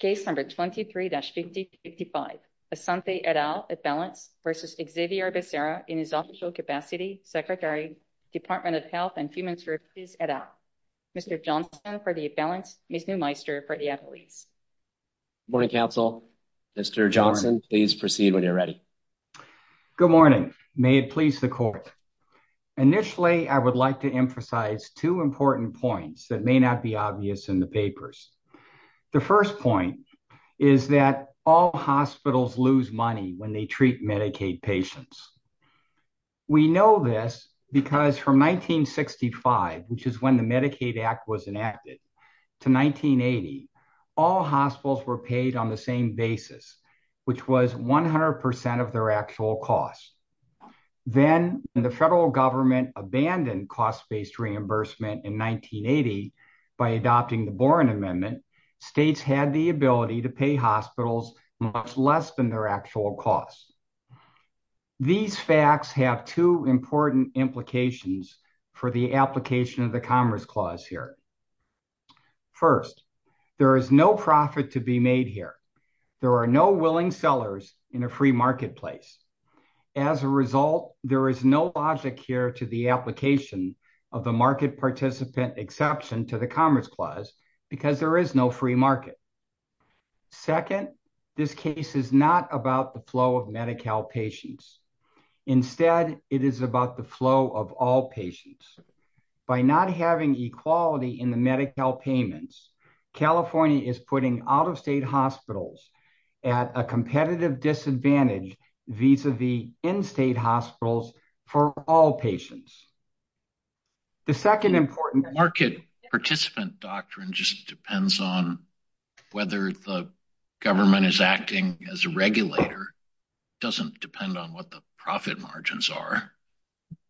Case number 23-55, Asante et al. at balance versus Xavier Becerra in his official capacity, Secretary, Department of Health and Human Services et al. Mr. Johnson for the at-balance, Ms. Neumeister for the at-lease. Good morning, counsel. Mr. Johnson, please proceed when you're ready. Good morning. May it please the court. Initially, I would like to emphasize two important points that may not be obvious in the papers. The first point is that all hospitals lose money when they treat Medicaid patients. We know this because from 1965, which is when the Medicaid Act was enacted, to 1980, all hospitals were paid on the same basis, which was 100% of their actual cost. Then the federal government abandoned cost-based reimbursement in 1980 by adopting the Boren Amendment. States had the ability to pay hospitals much less than their actual costs. These facts have two important implications for the application of the Commerce Clause here. First, there is no profit to be made here. There are no willing sellers in a free marketplace. As a result, there is no logic here to the application of the Market Participant Exception to the Commerce Clause because there is no free market. Second, this case is not about the flow of Medi-Cal patients. Instead, it is about the flow of all patients. By not having equality in the Medi-Cal payments, California is putting out-of-state hospitals at a competitive disadvantage vis-a-vis in-state hospitals for all patients. The second important— The market participant doctrine just depends on whether the government is acting as a regulator. It does not depend on what the profit margins are.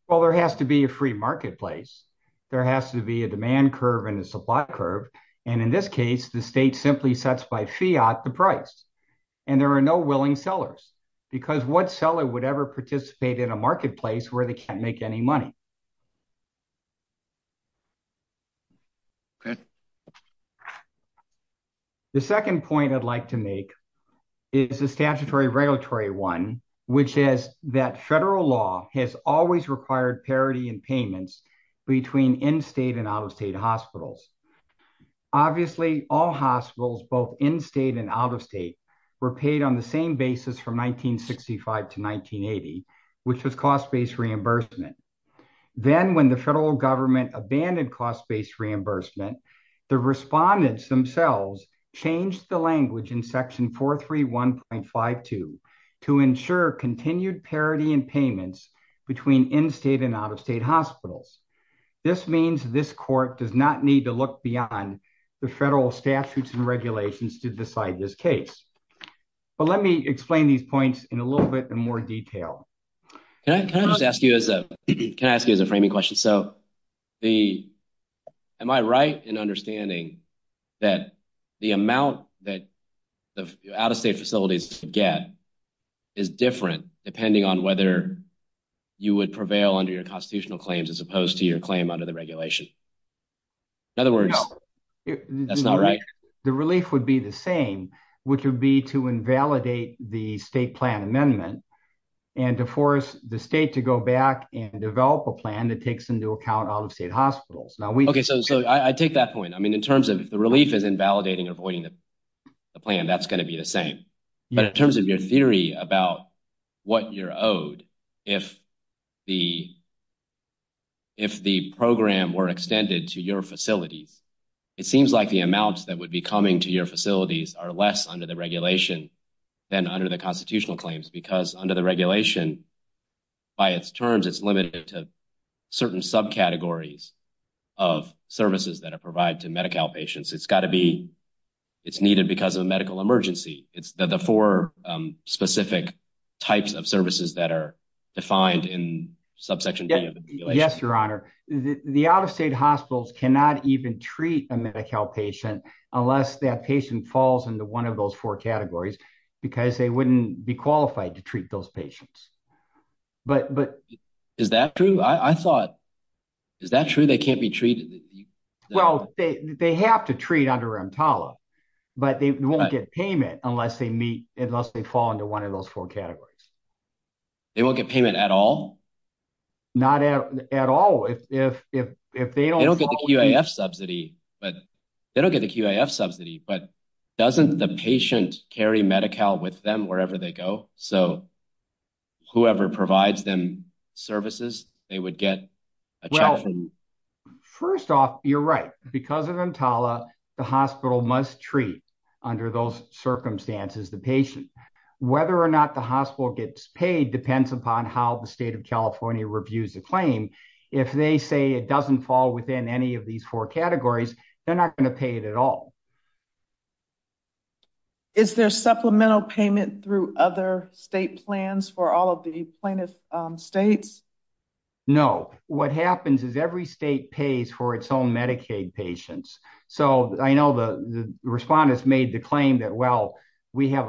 Well, there has to be a free marketplace. There has to be a demand curve and a supply curve. In this case, the state simply sets by fiat the price and there are no willing sellers because what seller would ever participate in a marketplace where they cannot make any money? The second point I would like to make is a statutory regulatory one, which is that federal law has always required parity in payments between in-state and out-of-state hospitals. Obviously, all hospitals, both in-state and out-of-state, were paid on the same basis from 1965 to 1980, which was cost-based reimbursement. Then, when the federal government abandoned cost-based reimbursement, the respondents themselves changed the language in Section 431.52 to ensure continued parity in payments between in-state and out-of-state hospitals. This means this court does not need to look beyond the federal statutes and regulations to decide this case. Let me explain these points in a little bit more detail. Can I just ask you as a framing question? Am I right in understanding that the amount that the out-of-state facilities get is different depending on whether you would prevail under constitutional claims as opposed to your claim under the regulation? In other words, that's not right? The relief would be the same, which would be to invalidate the state plan amendment and to force the state to go back and develop a plan that takes into account out-of-state hospitals. I take that point. If the relief is invalidating or avoiding the plan, that's going to be the same. In terms of your theory about what you're owed, if the program were extended to your facilities, it seems like the amounts that would be coming to your facilities are less under the regulation than under the constitutional claims. Under the regulation, by its terms, it's limited to certain subcategories of services that are provided to Medi-Cal patients. It's needed because of a medical emergency. It's the four specific types of services that are defined in subsection 3 of the regulation. Yes, Your Honor. The out-of-state hospitals cannot even treat a Medi-Cal patient unless that patient falls into one of those four categories because they wouldn't be qualified to treat those patients. Is that true? I thought, they won't get payment unless they fall into one of those four categories. They won't get payment at all? Not at all. They don't get the QIF subsidy, but doesn't the patient carry Medi-Cal with them wherever they go? So whoever provides them services, they would get a check. Well, first off, you're right. Because of EMTALA, the hospital must treat, under those circumstances, the patient. Whether or not the hospital gets paid depends upon how the state of California reviews the claim. If they say it doesn't fall within any of these four categories, they're not going to pay it at all. Is there supplemental payment through other state plans for all of the plaintiff states? No. What happens is every state pays for its own Medicaid patients. So I know the respondents made the claim that, well, we have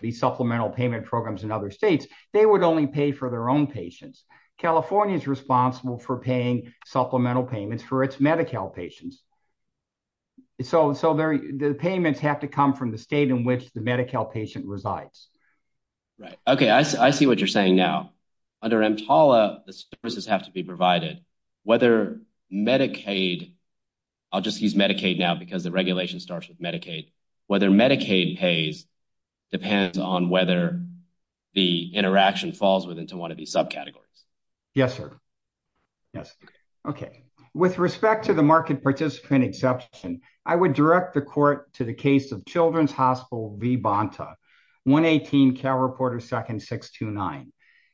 these supplemental payment programs in other states. They would only pay for their own patients. California is responsible for paying supplemental payments for its Medi-Cal patients. So the payments have to come from the state in which the Medi-Cal patient resides. Right. Okay. I see what you're saying now. Under EMTALA, the services have to be provided. Whether Medicaid, I'll just use Medicaid now because the regulation starts with Medicaid, whether Medicaid pays depends on whether the interaction falls within one of these subcategories. Yes, sir. Yes. Okay. With respect to the market participant exception, I would direct the court to the case of Children's Hospital v. Bonta, 118 Cal Reporter Second 629.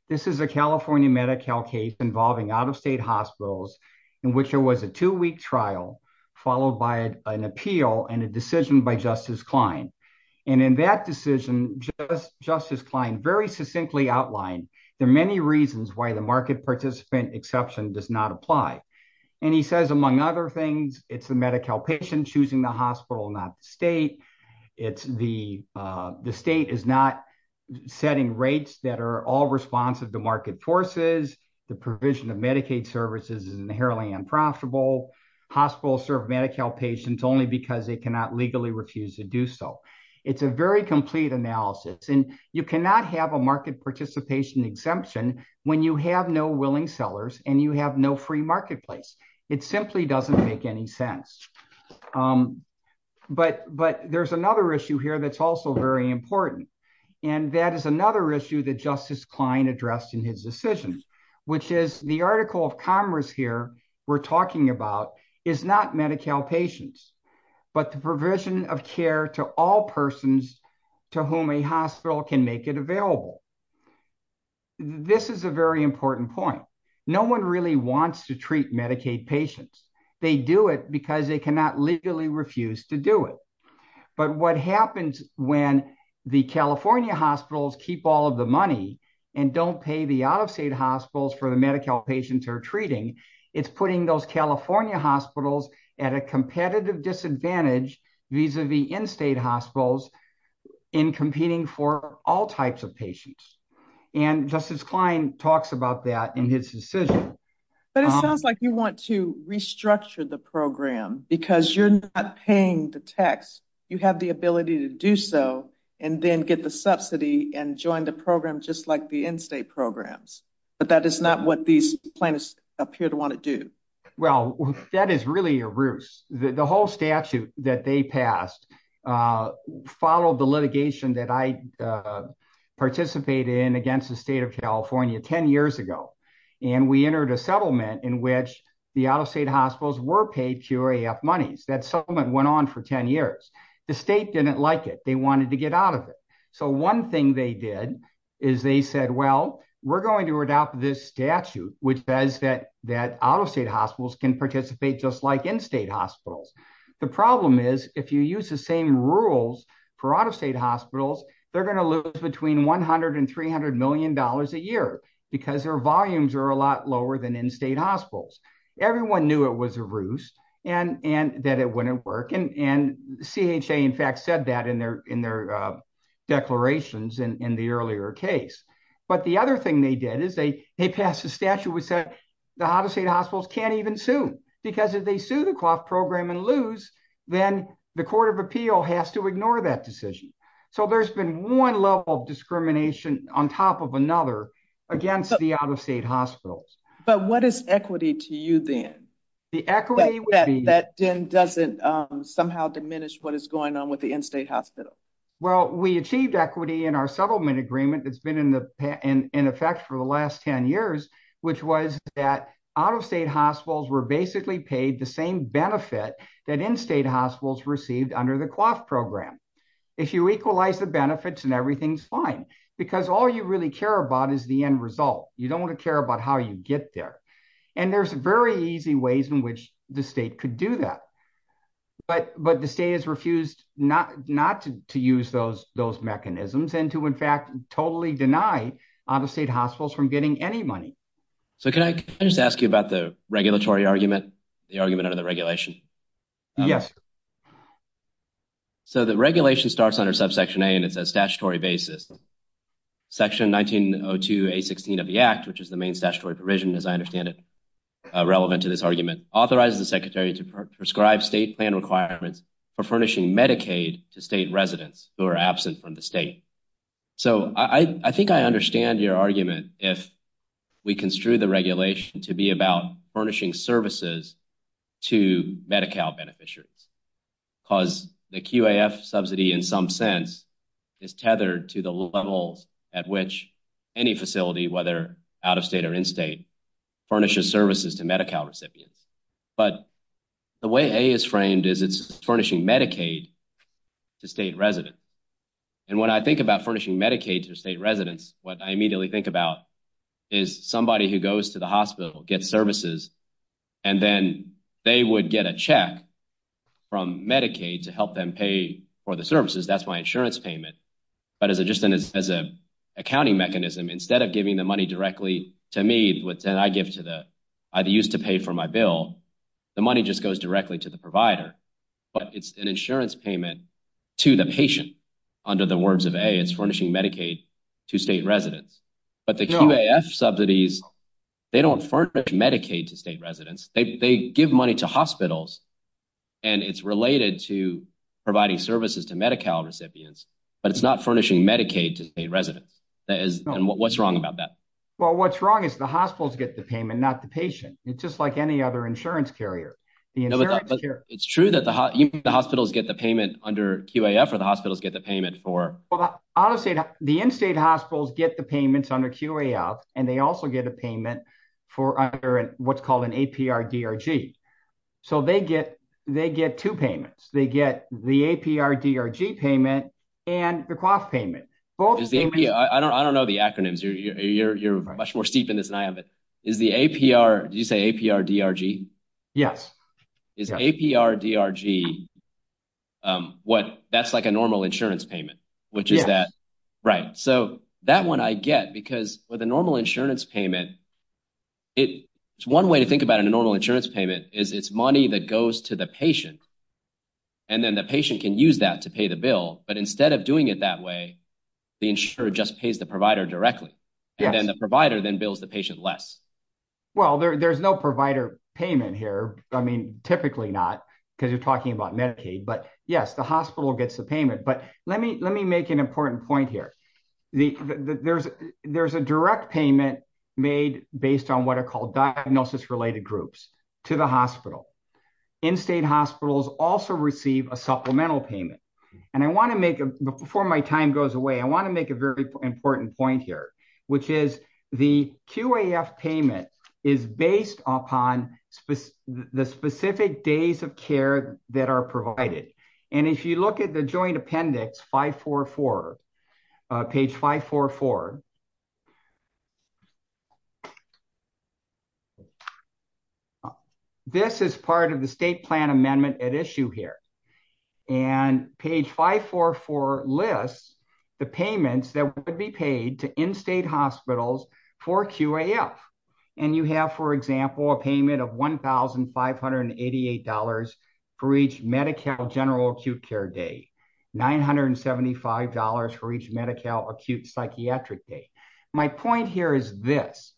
This is a California Medi-Cal case involving out-of-state hospitals in which there was a two-week trial followed by an appeal and a decision by Justice Klein. And in that decision, Justice Klein very succinctly outlined there are many reasons why the market participant exception does not apply. And he says, among other things, it's the Medi-Cal patient choosing the hospital, not the state. The state is not setting rates that are all responsive to market forces. The provision of Medicaid services is inherently unprofitable. Hospitals serve Medi-Cal patients only because they cannot legally refuse to do so. It's a very complete analysis. And you cannot have a market participation exemption when you have no willing sellers and you have no free marketplace. It simply doesn't make any sense. But there's another issue here that's also very important. And that is another issue that Justice Klein addressed in his decision, which is the article of commerce here we're talking about Medi-Cal patients, but the provision of care to all persons to whom a hospital can make it available. This is a very important point. No one really wants to treat Medicaid patients. They do it because they cannot legally refuse to do it. But what happens when the California hospitals keep all of the money and don't pay the out-of-state hospitals for the Medi-Cal patients are treating? It's putting those California hospitals at a competitive disadvantage vis-a-vis in-state hospitals in competing for all types of patients. And Justice Klein talks about that in his decision. But it sounds like you want to restructure the program because you're not paying the tax. You have the ability to do so and then get the subsidy and join the program just like the in-state programs. But that is not what these plaintiffs appear to want to do. Well, that is really a ruse. The whole statute that they passed followed the litigation that I participated in against the state of California 10 years ago. And we entered a settlement in which the out-of-state hospitals were paid QRAF monies. That settlement went on for 10 years. The state didn't like it. They wanted to get out of it. So one thing they did is they said, well, we're going to adopt this statute which says that out-of-state hospitals can participate just like in-state hospitals. The problem is if you use the same rules for out-of-state hospitals, they're going to lose between $100 and $300 million a year because their volumes are a lot lower than in-state hospitals. Everyone knew it was a ruse and that it wouldn't work. And CHA, in fact, said that in their declarations in the earlier case. But the other thing they did is they passed a statute which said the out-of-state hospitals can't even sue because if they sue the QRAF program and lose, then the court of appeal has to ignore that decision. So there's been one level of discrimination on top of another against the out-of-state hospitals. But what is equity to you then? The equity would be... That then doesn't somehow diminish what is going on with the in-state hospital. Well, we achieved equity in our settlement agreement that's been in effect for the last 10 years, which was that out-of-state hospitals were basically paid the same benefit that in-state hospitals received under the QRAF program. If you equalize the benefits, then everything's fine because all you really care about is the end result. You don't want to care about how you get there. And there's very easy ways in which the state could do that. But the state has refused not to use those mechanisms and to, in fact, totally deny out-of-state hospitals from getting any money. So can I just ask you about the regulatory argument, the argument under the regulation? Yes. So the regulation starts under subsection A and it's a statutory basis. Section 1902A16 of the legislation, as I understand it, relevant to this argument, authorizes the secretary to prescribe state plan requirements for furnishing Medicaid to state residents who are absent from the state. So I think I understand your argument if we construe the regulation to be about furnishing services to Medi-Cal beneficiaries because the QAF subsidy in some sense is tethered to the levels at which any facility, whether out-of-state or in-state, furnishes services to Medi-Cal recipients. But the way A is framed is it's furnishing Medicaid to state residents. And when I think about furnishing Medicaid to state residents, what I immediately think about is somebody who goes to the hospital, gets services, and then they would get a check from Medicaid to help them pay for the services. That's my insurance payment. But just as an accounting mechanism, instead of giving the money directly to me, which I used to pay for my bill, the money just goes directly to the provider. But it's an insurance payment to the patient under the words of A. It's furnishing Medicaid to state residents. But the QAF subsidies, they don't furnish Medicaid to state residents. They give money to hospitals and it's related to providing services to Medi-Cal recipients. But it's not furnishing Medicaid to state residents. And what's wrong about that? Well, what's wrong is the hospitals get the payment, not the patient. It's just like any other insurance carrier. It's true that the hospitals get the payment under QAF or the hospitals get the payment for... The in-state hospitals get the payments under QAF and they also get a payment for what's called an APR DRG. So they get two payments. They get the APR DRG payment and the QAF payment. I don't know the acronyms. You're much more steep in this than I am. But is the APR, did you say APR DRG? Yes. Is APR DRG, that's like a normal insurance payment, which is that... Right. So that one I get because with a normal insurance payment, it's one way to think about a normal insurance payment is it's money that goes to the patient. And then the patient can use that to pay the bill. But instead of doing it that way, the insurer just pays the provider directly. And then the provider then bills the patient less. Well, there's no provider payment here. I mean, typically not because you're talking about Medicaid, but yes, the hospital gets the payment. But let me make an important point here. There's a direct payment made based on what are called diagnosis-related groups to the hospital. In-state hospitals also receive a supplemental payment. Before my time goes away, I want to make a very important point here, which is the QAF payment is based upon the specific days of care that are provided. And if you look at the joint appendix 544, page 544, this is part of the state plan amendment at issue here. And page 544 lists the payments that would be paid to in-state hospitals for QAF. And you have, for example, a payment of $1,588 for each Medi-Cal general acute care day, $975 for each Medi-Cal acute psychiatric day, my point here is this,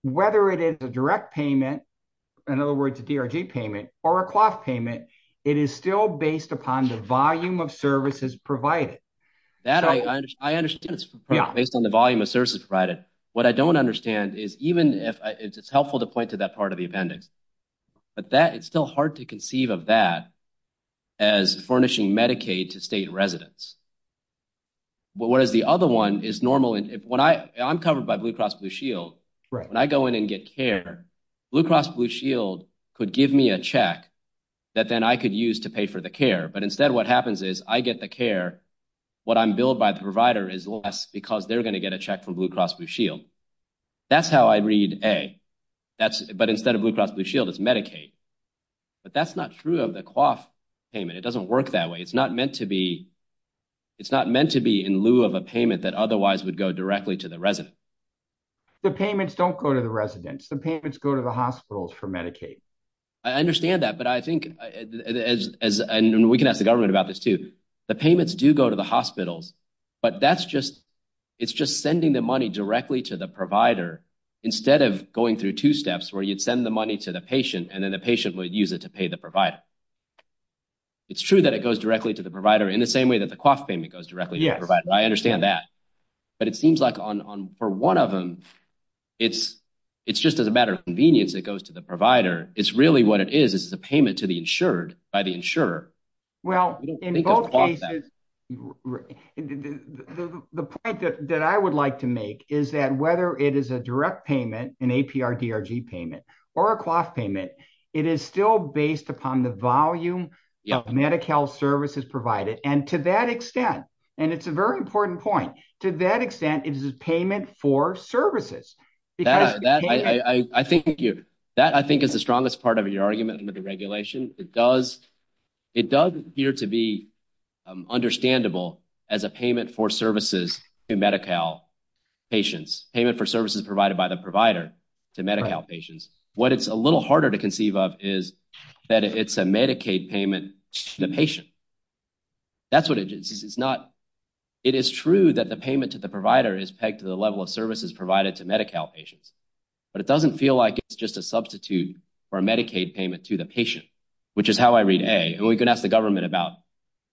whether it is a direct payment, in other words, a DRG payment or a QAF payment, it is still based upon the volume of services provided. That I understand it's based on the volume of services provided. What I don't understand is even if it's helpful to point to that part of the appendix, but that it's still hard to conceive of that as furnishing Medicaid to state residents. Whereas the other one is normal. I'm covered by Blue Cross Blue Shield. When I go in and get care, Blue Cross Blue Shield could give me a check that then I could use to pay for the care. But instead what happens is I get the care, what I'm billed by the provider is less because they're going to get a check from Blue Cross Blue Shield. That's how I read A. But instead of Blue Cross Blue Shield, it's Medicaid. But that's not true of the QAF payment. It doesn't work that way. It's not meant to be in lieu of a payment that otherwise would go directly to the resident. The payments don't go to the residents. The payments go to the hospitals for Medicaid. I understand that, but I think, and we can ask the government about this too, the payments do go to the hospitals, but that's just, it's just sending the money directly to the provider instead of going through two steps where you'd send the money to the patient and the patient would use it to pay the provider. It's true that it goes directly to the provider in the same way that the QAF payment goes directly to the provider. I understand that, but it seems like on, for one of them, it's just as a matter of convenience, it goes to the provider. It's really what it is, is the payment to the insured by the insurer. Well, in both cases, the point that I would like to make is that whether it is a direct payment, an APR DRG payment, or a QAF payment, it is still based upon the volume of Medi-Cal services provided. And to that extent, and it's a very important point, to that extent, it is a payment for services. That I think is the strongest part of your argument under the regulation. It does appear to be understandable as a payment for services to Medi-Cal patients, payment for services provided by the provider to Medi-Cal patients. What it's a little harder to conceive of is that it's a Medicaid payment to the patient. It is true that the payment to the provider is pegged to the level of services provided to Medi-Cal patients, but it doesn't feel like it's just a substitute for a Medicaid payment to the patient, which is how I read A. And we can ask the government about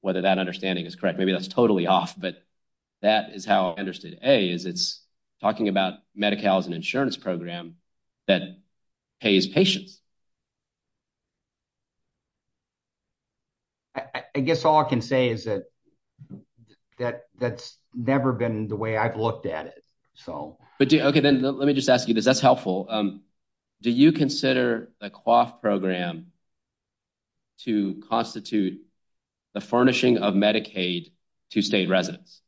whether that understanding is correct. Maybe that's totally off, but that is how I understood A, is it's talking about Medi-Cal as an insurance program that pays patients. I guess all I can say is that that's never been the way I've looked at it. So. Okay, then let me just ask you this. That's helpful. Do you consider the QAF program to constitute the furnishing of Medicaid to state residents?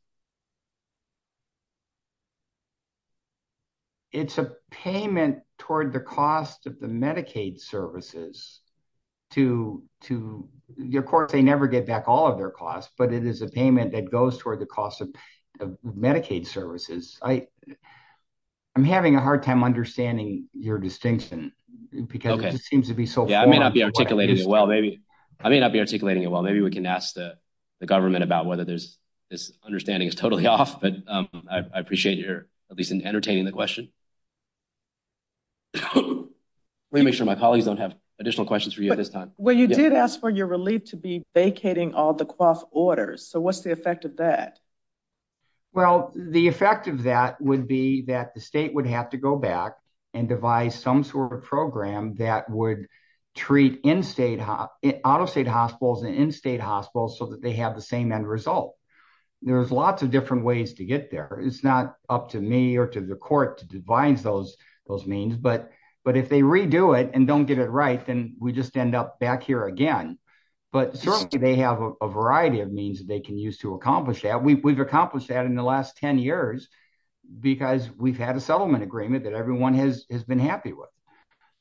It's a payment toward the cost of the Medicaid services to, of course, they never get back all of their costs, but it is a payment that goes toward the cost of Medicaid services. I'm having a hard time understanding your distinction because it seems to be so. I may not be articulating it well. Maybe I may not be articulating it well. Maybe we can ask the government about whether there's this understanding is totally off, but I appreciate you're at least entertaining the question. Let me make sure my colleagues don't have additional questions for you at this time. Well, you did ask for your relief to be vacating all the QAF orders. So what's the effect of that? Well, the effect of that would be that the state would have to go back and devise some sort of program that would treat in-state, out-of-state hospitals and in-state hospitals so that they have the same end result. There's lots of different ways to get there. It's not up to me or to the court to devise those means, but if they redo it and don't get it right, then we just end up back here again. But certainly they have a variety of means that they use to accomplish that. We've accomplished that in the last 10 years because we've had a settlement agreement that everyone has been happy with.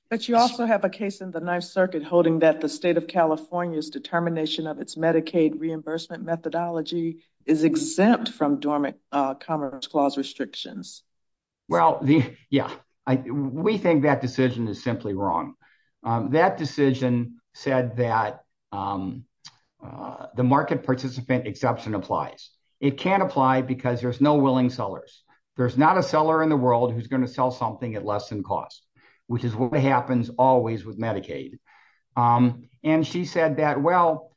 But you also have a case in the Ninth Circuit holding that the state of California's determination of its Medicaid reimbursement methodology is exempt from Dormant Commerce Clause restrictions. Well, yeah. We think that decision is simply wrong. That decision said that the market participant exception applies. It can't apply because there's no willing sellers. There's not a seller in the world who's going to sell something at less than cost, which is what happens always with Medicaid. And she said that, well,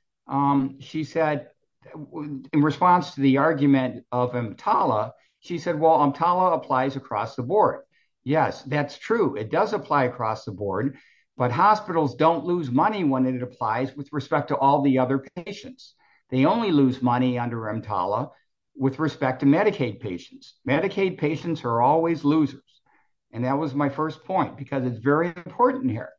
she said in response to the argument of EMTALA, she said, well, EMTALA applies across the board. Yes, that's true. It does apply across the board, but hospitals don't lose money when it applies with respect to all the other patients. They only lose money under EMTALA with respect to Medicaid patients. Medicaid patients are always losers. And that was my first point because it's very important here.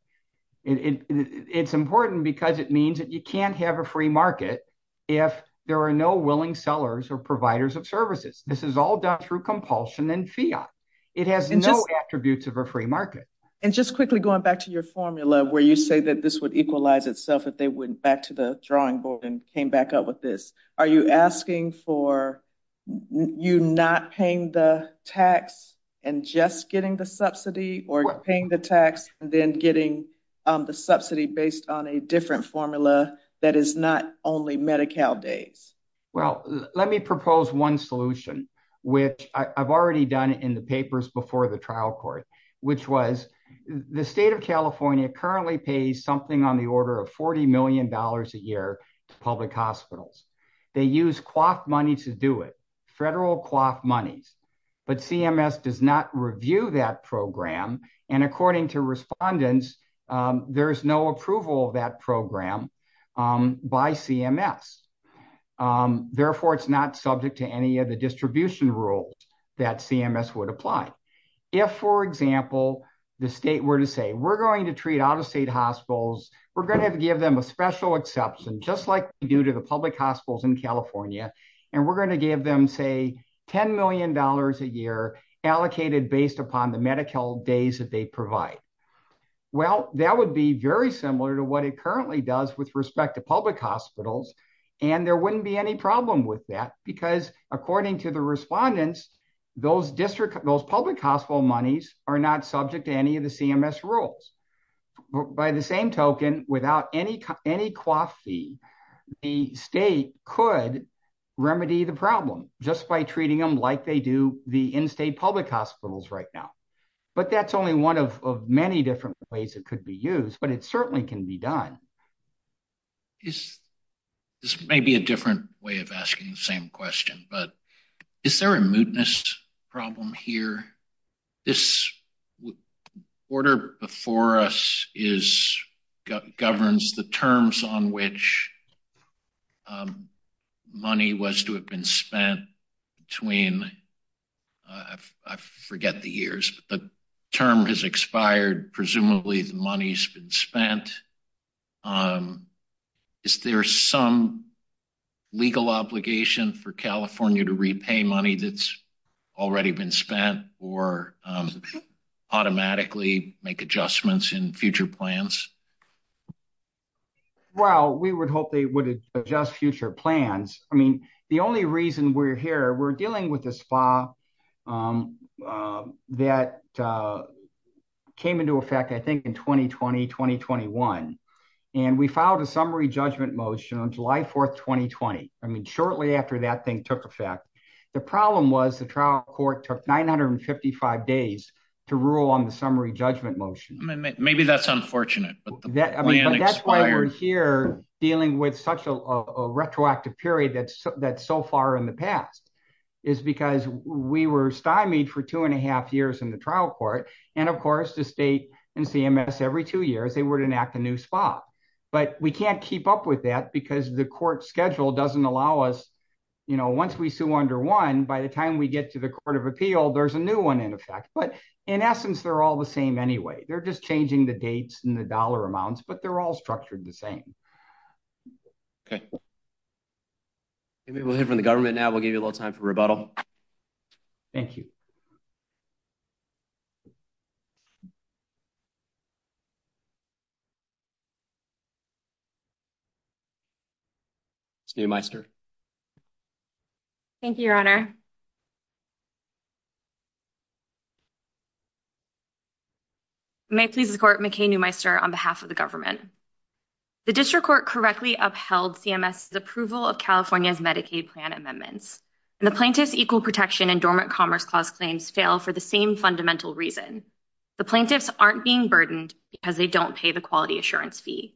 It's important because it means that you can't have a free market if there are no willing sellers or providers of services. This is all done through compulsion and fiat. It has no attributes of a market. And just quickly going back to your formula where you say that this would equalize itself if they went back to the drawing board and came back up with this. Are you asking for you not paying the tax and just getting the subsidy or paying the tax and then getting the subsidy based on a different formula that is not only Medi-Cal days? Well, let me propose one solution, which I've already done in the papers before the trial court, which was the state of California currently pays something on the order of $40 million a year to public hospitals. They use quaff money to do it, federal quaff money. But CMS does not review that program. And according to respondents, there is no approval of that program by CMS. Therefore, it's not subject to any of the distribution rules that CMS would apply. If, for example, the state were to say, we're going to treat out-of-state hospitals, we're going to have to give them a special exception, just like we do to the public hospitals in California. And we're going to give them, say, $10 million a year allocated based upon the Medi-Cal days that they provide. Well, that would be very similar to what it currently does with respect to public hospitals. And there wouldn't be any problem with that because, according to the respondents, those public hospital monies are not subject to any of the CMS rules. By the same token, without any quaff fee, the state could remedy the problem just by treating them like they do the in-state public hospitals right now. But that's only one of many different ways it could be used, but it certainly can be done. This may be a different way of asking the same question, but is there a mootness problem here? This order before us governs the terms on which money was to have been spent between, I forget the years, but the term has expired. Presumably the money's been spent. Is there some legal obligation for California to repay money that's already been spent or automatically make adjustments in future plans? Well, we would hope they would adjust future plans. I mean, the only reason we're here, we're dealing with this FA that came into effect, I think, in 2020, 2021, and we filed a summary judgment motion on July 4th, 2020. I mean, shortly after that thing took effect. The problem was the trial court took 955 days to rule on the summary judgment motion. Maybe that's unfortunate. That's why we're here dealing with such a retroactive period that's so far in the past. It's because we were stymied for two and a half years in the trial court. And of course, the state and CMS, every two years, they would enact a new spot, but we can't keep up with that because the court schedule doesn't allow us, you know, once we sue under one, by the time we get to the court of appeal, there's a new one in effect, but in essence, they're all the same anyway. They're just changing the dates and the dollar amounts, but they're all structured the same. Okay. Maybe we'll hear from the government now. We'll give you a little time for rebuttal. Ms. Neumeister. Thank you, your honor. May it please the court, McCain Neumeister on behalf of the government. The district court correctly upheld CMS approval of California's Medicaid plan amendments, and the plaintiff's equal protection and dormant commerce clause claims fail for the same fundamental reason. The plaintiffs aren't being burdened because they don't pay the quality assurance fee.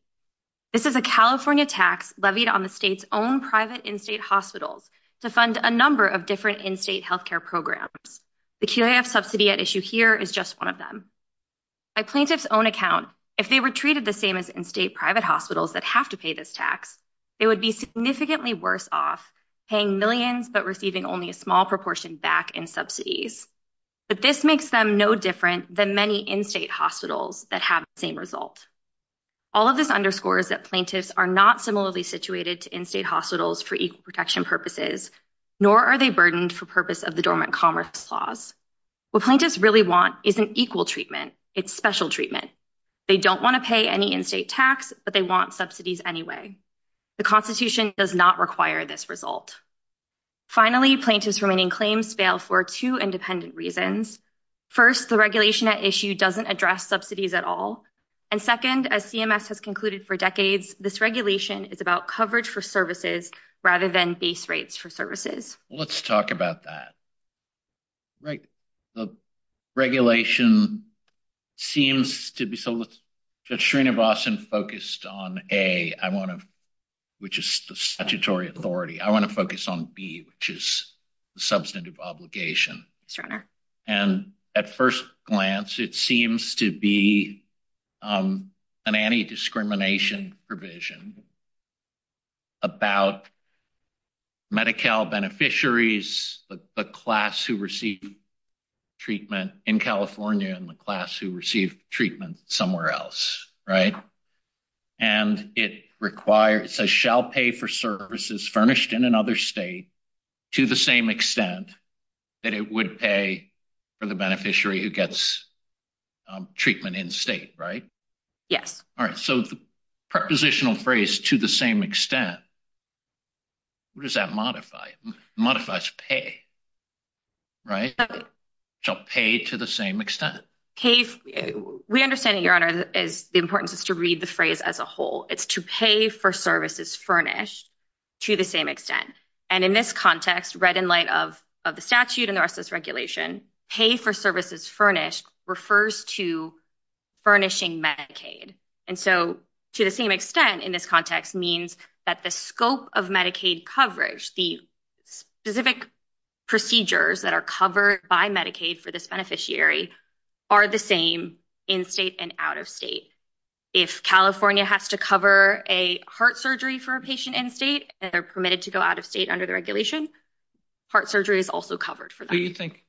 This is a California tax levied on the state's own private in-state hospitals to fund a number of different in-state healthcare programs. The QAF subsidy at issue here is just one of them. By plaintiff's own account, if they were treated the same as in-state private hospitals that have to pay this tax, they would be significantly worse off paying millions, but receiving only a small proportion back in subsidies. But this makes them no different than many in-state hospitals that have the same result. All of this underscores that plaintiffs are not similarly situated to in-state hospitals for equal protection purposes, nor are they burdened for purpose of the dormant commerce clause. What plaintiffs really want isn't equal treatment, it's special treatment. They don't want to pay any in-state tax, but they want subsidies anyway. The constitution does not require this result. Finally, plaintiff's remaining claims fail for two independent reasons. First, the regulation at issue doesn't address subsidies at all. And second, as CMS has concluded for decades, this regulation is about coverage for services rather than base rates for services. Let's talk about that. Right. The regulation seems to be... So let's... Judge Srinivasan focused on A, which is the statutory authority. I want to focus on B, which is the substantive obligation. And at first glance, it seems to be an anti-discrimination provision about Medi-Cal beneficiaries, the class who receive treatment in California and the class who receive treatment somewhere else, right? And it requires... It says, shall pay for services furnished in another state to the same extent that it would pay for the beneficiary who gets treatment in-state, right? Yes. All right. So the prepositional phrase, to the same extent, what does that modify? It modifies pay, right? Shall pay to the same extent. We understand, Your Honor, the importance is to read the phrase as a whole. It's to pay for services furnished to the same extent. And in this context, read in light of the statute and the rest of this regulation, pay for services furnished refers to furnishing Medicaid. And so to the same extent in this context means that the scope of Medicaid coverage, the specific procedures that are covered by Medicaid for this beneficiary are the same in-state and out-of-state. If California has to cover a heart surgery for a patient in-state and they're permitted to go out of state under the regulation, heart surgery is also covered for that. Do you think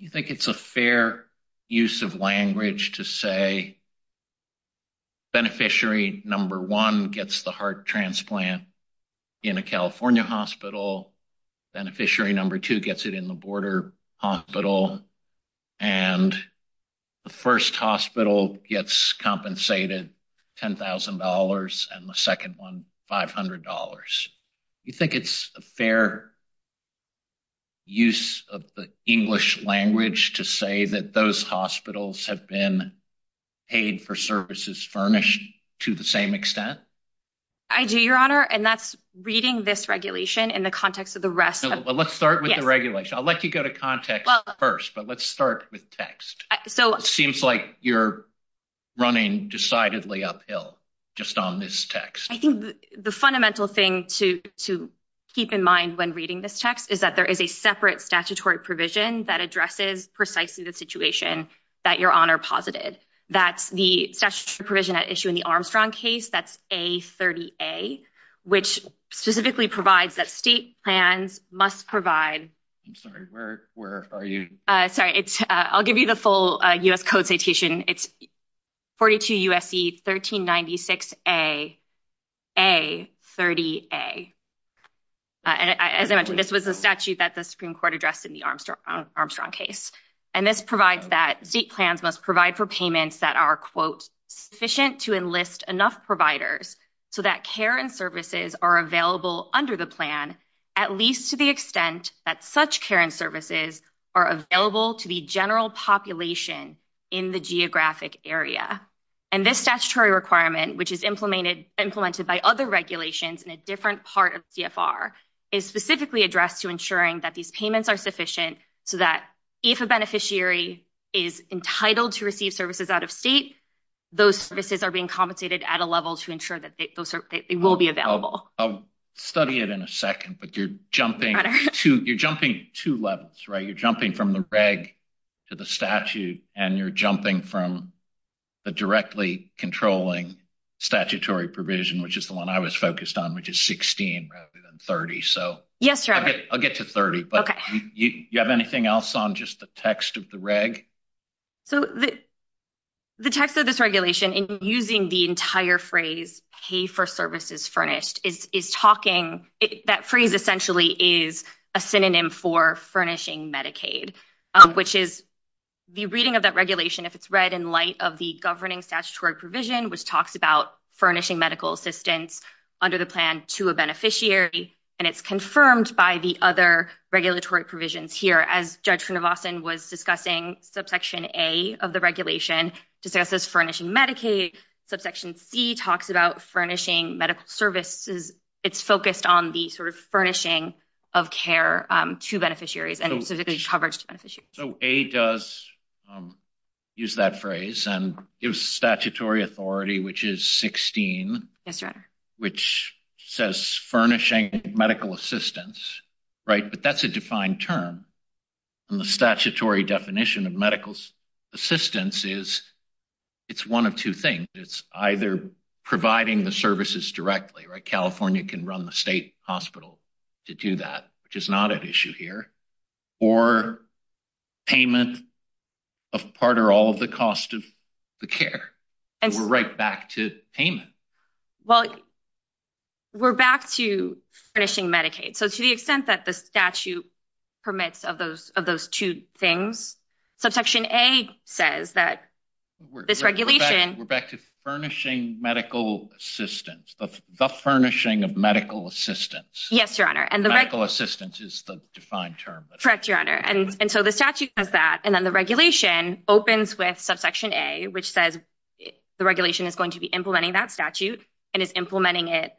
it's a fair use of language to say beneficiary number one gets the heart transplant in a California hospital, beneficiary number two gets it in the border hospital, and the first hospital gets compensated $10,000 and the second one $500? Do you think it's a fair use of the English language to say that those hospitals have been paid for services furnished to the same extent? I do, Your Honor, and that's reading this regulation in the context of the rest. Let's start with the regulation. I'll let you go to context first, but let's start with text. Seems like you're running decidedly uphill just on this text. I think the fundamental thing to keep in mind when reading this text is that there is a separate statutory provision that addresses precisely the situation that Your Honor posited. That's the statutory provision at issue in the Armstrong case, that's A30A, which specifically provides that state plans must provide... I'm sorry, where are you? Sorry, I'll give you the full U.S. Code citation. It's 42 U.S.C. 1396A, A30A. And as I mentioned, this was a statute that the Supreme Court addressed in the Armstrong case. And this provides that state plans must provide for payments that are, quote, sufficient to enlist enough providers so that care and services are available under the plan, at least to the extent that such care and services are available to the general population in the geographic area. And this statutory requirement, which is implemented by other regulations in a different part of CFR, is specifically addressed to ensuring that these payments are sufficient so that if a beneficiary is entitled to receive services out of state, those services are being compensated at a level to ensure that they will be available. I'll study it in a second, but you're jumping two levels, right? You're jumping from the reg to the statute, and you're jumping from the directly controlling statutory provision, which is the one I was focused on, which is 16 rather than 30. So I'll get to 30. But you have anything else on just the text of the reg? So the text of this regulation, in using the entire phrase, pay for services furnished, is talking, that phrase essentially is a synonym for furnishing Medicaid, which is the reading of that regulation, if it's read in light of the governing statutory provision, which talks about furnishing medical assistance under the plan to a beneficiary, and it's confirmed by the other regulatory provisions here. As Judge Kronvossen was discussing subsection A of the regulation, just as furnishing Medicaid, subsection C talks about furnishing medical services. It's focused on the sort of furnishing So A does use that phrase, and it was statutory authority, which is 16, which says furnishing medical assistance, right? But that's a defined term, and the statutory definition of medical assistance is it's one of two things. It's either providing the services directly, right? California can run the state hospital to do that, which is not at issue here, or payment of part or all of the cost of the care, and we're right back to payment. Well, we're back to finishing Medicaid. So to the extent that the statute permits of those two things, subsection A says that this regulation... We're back to furnishing medical assistance, the furnishing of medical assistance. Yes, Your Honor. Medical assistance is the defined term. Correct, Your Honor. And so the statute does that, and then the regulation opens with subsection A, which says the regulation is going to be implementing that statute and is implementing it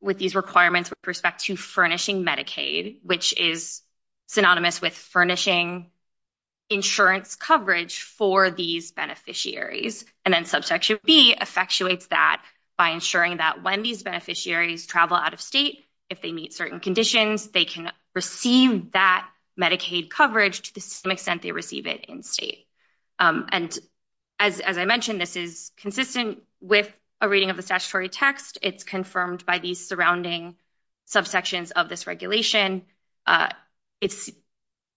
with these requirements with respect to furnishing Medicaid, which is synonymous with furnishing insurance coverage for these beneficiaries. And then subsection B effectuates that by ensuring that when these beneficiaries travel out of state, if they meet certain conditions, they can receive that Medicaid coverage to the same extent they receive it in state. And as I mentioned, this is consistent with a reading of the statutory text. It's confirmed by these surrounding subsections of this regulation.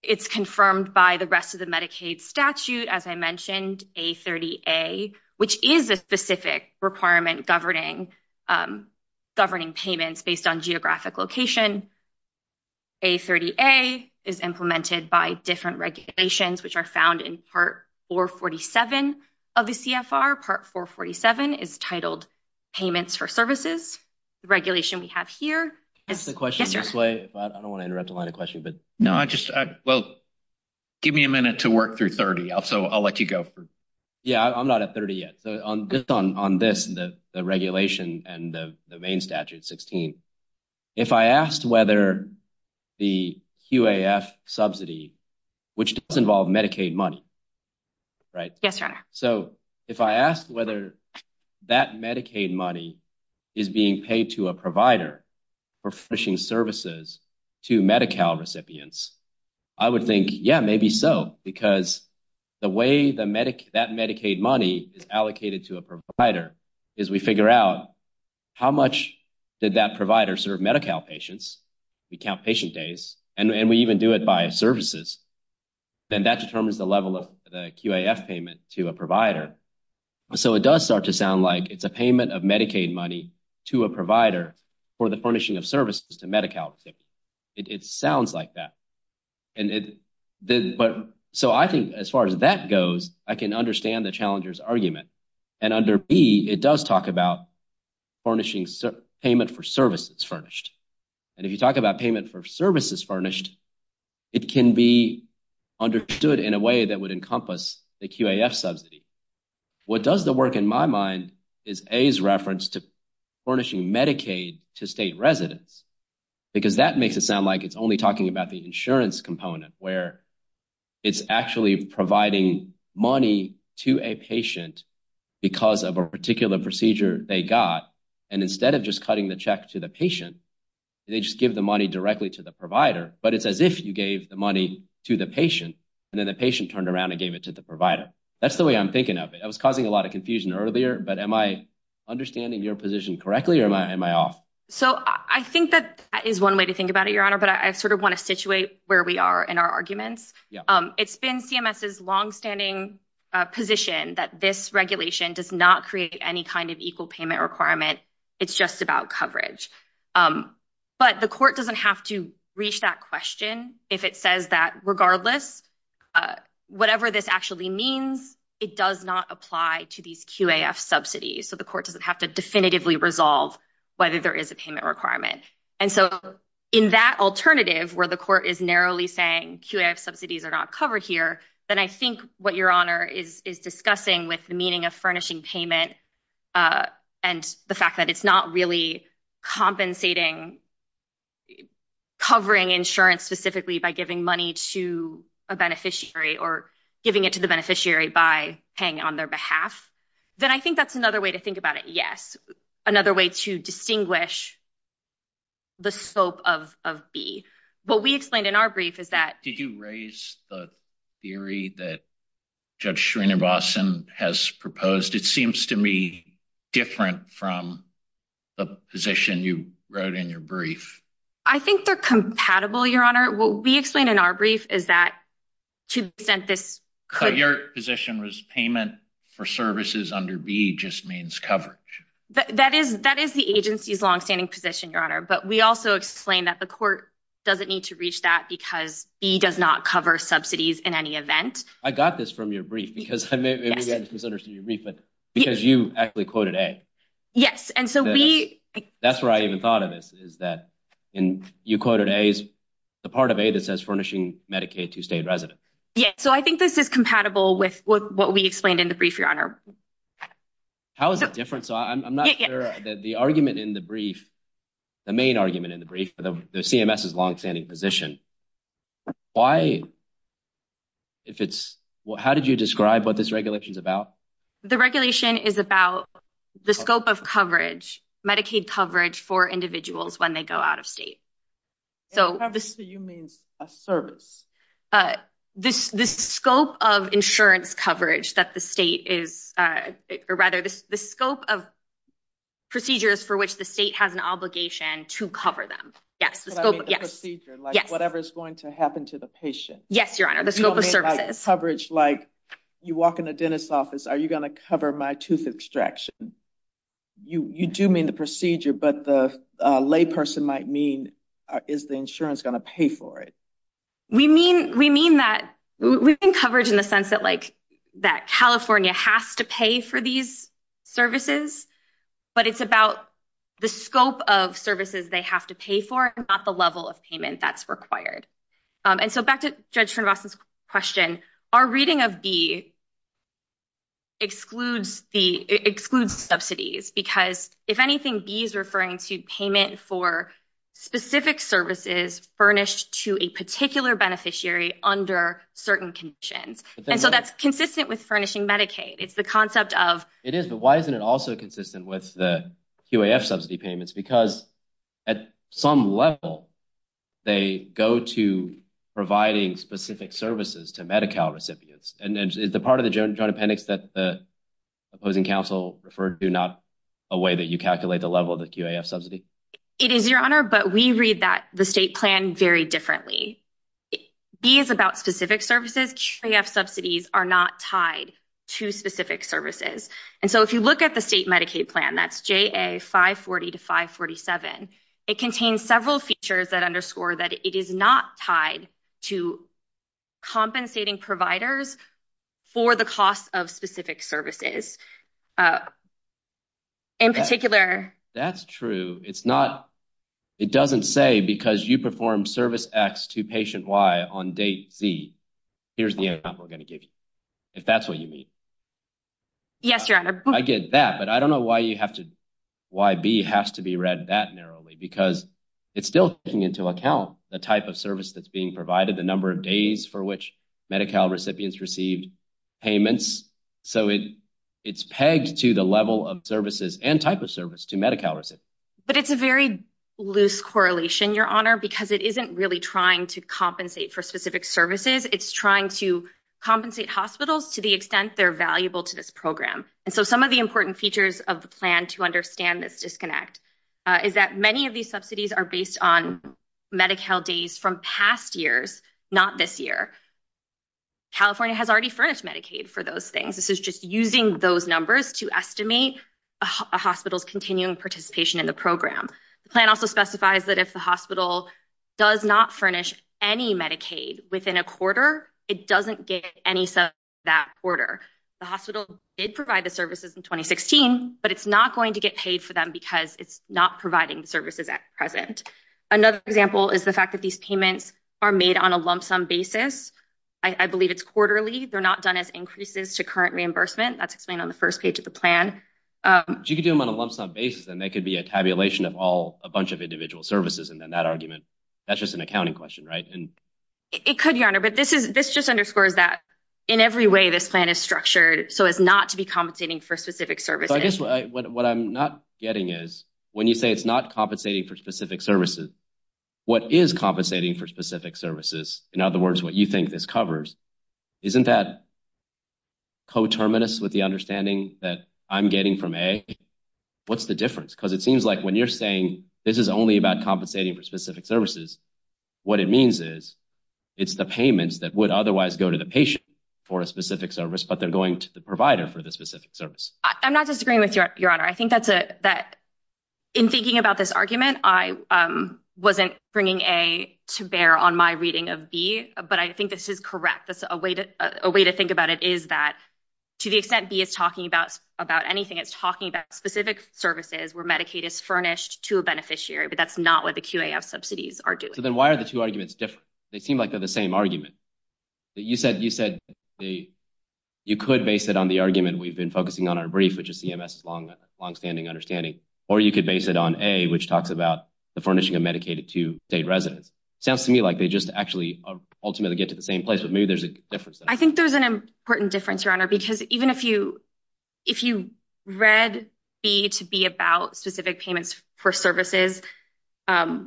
It's confirmed by the rest of the Medicaid statute, as I mentioned, A30A, which is a specific requirement governing payments based on geographic location. A30A is implemented by different regulations, which are found in Part 447 of the CFR. Part 447 is titled Payments for Services. The regulation we have here... Can I ask a question this way? I don't want to interrupt a lot of questions, but... Well, give me a minute to work through 30, so I'll let you go. Yeah, I'm not at 30 yet. So on this, the regulation and the main statute 16, if I asked whether the QAF subsidy, which does involve Medicaid money, right? Yes, your honor. So if I asked whether that Medicaid money is being paid to a provider for finishing services to Medi-Cal recipients, I would think, yeah, maybe so. Because the way that Medicaid money is allocated to a provider is we figure out how much did that provider serve Medi-Cal patients. We count patient days, and we even do it by services. Then that determines the level of the QAF payment to a provider. So it does start to sound like it's a payment of Medicaid money to a provider for the furnishing of services to Medi-Cal recipients. It sounds like that. So I think as far as that goes, I can understand the challenger's argument. And under B, it does talk about payment for services furnished. And if you talk about payment for services furnished, it can be understood in a way that would encompass the QAF subsidy. What does the work in my mind is A's reference to furnishing Medicaid to state residents, because that makes it sound like it's only talking about the insurance component where it's actually providing money to a patient because of a particular procedure they got. And instead of just cutting the check to the patient, they just give the money directly to the provider. But it's as if you gave the money to the patient, and then the patient turned around and gave it to the provider. That's the way I'm thinking of it. I was causing a lot of confusion earlier, but am I understanding your position correctly or am I off? So I think that is one way to think about it, Your Honor, but I sort of want to situate where we are in our arguments. It's been CMS's longstanding position that this regulation does not create any kind of equal payment requirement. It's just about coverage. But the court doesn't have to reach that question if it says that regardless, whatever this actually means, it does not apply to these QAF subsidies. So the court doesn't have to definitively resolve whether there is a payment requirement. And so in that alternative where the court is narrowly saying QAF subsidies are not covered here, then I think what Your Honor is discussing with the meaning of furnishing payment and the fact that it's not really compensating covering insurance specifically by giving money to a beneficiary or giving it to the beneficiary by paying on their behalf, then I think that's another way to think about it. Yes. Another way to distinguish the scope of B. What we explained different from the position you wrote in your brief? I think they're compatible, Your Honor. What we explained in our brief is that to the extent this could... So your position was payment for services under B just means coverage. That is the agency's longstanding position, Your Honor. But we also explained that the court doesn't need to reach that because B does not cover subsidies in any event. I got this from your brief because maybe I actually quoted A. Yes. And so we... That's where I even thought of this is that you quoted A as the part of A that says furnishing Medicaid to state residents. Yeah. So I think this is compatible with what we explained in the brief, Your Honor. How is it different? So I'm not sure that the argument in the brief, the main argument in the brief, the CMS's longstanding position, why if it's... How did you describe what this regulation is about? The regulation is about the scope of coverage, Medicaid coverage for individuals when they go out of state. So this... Coverage to you means a service. The scope of insurance coverage that the state is... Or rather the scope of procedures for which the state has an obligation to cover them. Yes, the scope of... Whatever is going to happen to the patient. Yes, Your Honor. The scope of services. Coverage like you walk into a dentist's office, are you going to cover my tooth extraction? You do mean the procedure, but the lay person might mean, is the insurance going to pay for it? We mean that... We think coverage in the sense that California has to pay for these services, but it's about the scope of services they have to pay for and not the level of payment that's required. And so back to Judge FranRosten's question, our reading of B excludes subsidies because if anything, B is referring to payment for specific services furnished to a particular beneficiary under certain conditions. And so that's consistent with furnishing Medicaid. It's the concept of... It is, but why isn't it also consistent with the QAF subsidy payments? Because at some level, they go to providing specific services to Medi-Cal recipients. And is the part of the joint appendix that the opposing counsel referred to not a way that you calculate the level of the QAF subsidy? It is, Your Honor, but we read the state plan very differently. B is about specific services. QAF subsidies are not tied to specific services. And so if you look at the state Medicaid plan, that's JA 540 to 547, it contains several features that underscore that it is not tied to compensating providers for the cost of specific services. In particular... That's true. It's not... It doesn't say because you perform service X to patient Y on date Z. Here's the example we're going to give you, if that's what you mean. Yes, Your Honor. I get that, but I don't know why you have to... Why B has to be read that narrowly because it's still taking into account the type of service that's being provided, the number of days for which Medi-Cal recipients received payments. So it's pegged to the level of services and type of service to Medi-Cal recipients. But it's a very loose correlation, Your Honor, because it isn't really trying to compensate for specific services. It's trying to compensate hospitals to the extent they're valuable to this program. And so some of the important features of the plan to understand this disconnect is that many of these subsidies are based on Medi-Cal days from past years, not this year. California has already furnished Medicaid for those things. This is just using those numbers to estimate a hospital's continuing participation in the program. The plan also specifies that if hospital does not furnish any Medicaid within a quarter, it doesn't get any sub that quarter. The hospital did provide the services in 2016, but it's not going to get paid for them because it's not providing the services at present. Another example is the fact that these payments are made on a lump sum basis. I believe it's quarterly. They're not done as increases to current reimbursement. That's explained on the first page of the plan. But you could do them on a lump sum basis, and they could be a tabulation of all, of individual services. And then that argument, that's just an accounting question, right? It could, Your Honor, but this just underscores that in every way, this plan is structured so as not to be compensating for specific services. I guess what I'm not getting is when you say it's not compensating for specific services, what is compensating for specific services? In other words, what you think this covers, isn't that coterminous with the understanding that I'm getting from A? What's the difference? Because it seems like when you're saying it's only about compensating for specific services, what it means is it's the payments that would otherwise go to the patient for a specific service, but they're going to the provider for the specific service. I'm not disagreeing with you, Your Honor. In thinking about this argument, I wasn't bringing A to bear on my reading of B, but I think this is correct. A way to think about it is that to the extent B is talking about anything, it's talking about specific services where Medicaid is furnished to a beneficiary, but that's not what the QAF subsidies are doing. Then why are the two arguments different? They seem like they're the same argument. You said you could base it on the argument we've been focusing on our brief, which is CMS' longstanding understanding, or you could base it on A, which talks about the furnishing of Medicaid to state residents. Sounds to me like they just actually ultimately get to the same place, but maybe there's a difference there. I think there's an important difference, because even if you read B to be about specific payments for services, I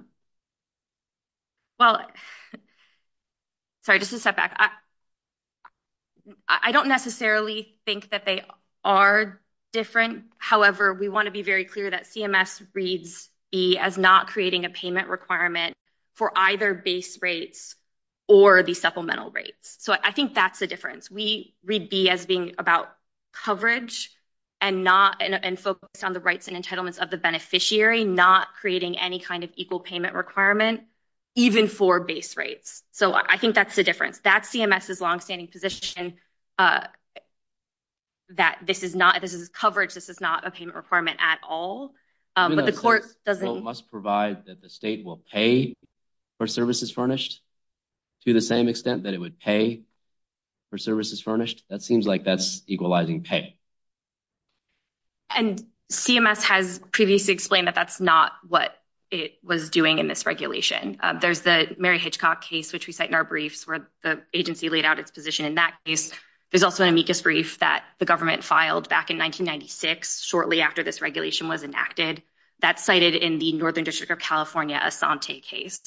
don't necessarily think that they are different. However, we want to be very clear that CMS reads B as not creating a payment requirement for either base rates or the supplemental rates. I think that's the difference. We read B as being about coverage and focused on the rights and entitlements of the beneficiary, not creating any kind of equal payment requirement, even for base rates. I think that's the difference. That's CMS' longstanding position that this is coverage. This is not a payment requirement at all, but the court doesn't- CMS must provide that the state will pay for services furnished to the same extent that it would pay for services furnished. That seems like that's equalizing pay. And CMS has previously explained that that's not what it was doing in this regulation. There's the Mary Hitchcock case, which we cite in our briefs, where the agency laid out its position in that case. There's also an amicus brief that the government filed back in 1996, shortly after this regulation was enacted. That's cited in the Northern District of California case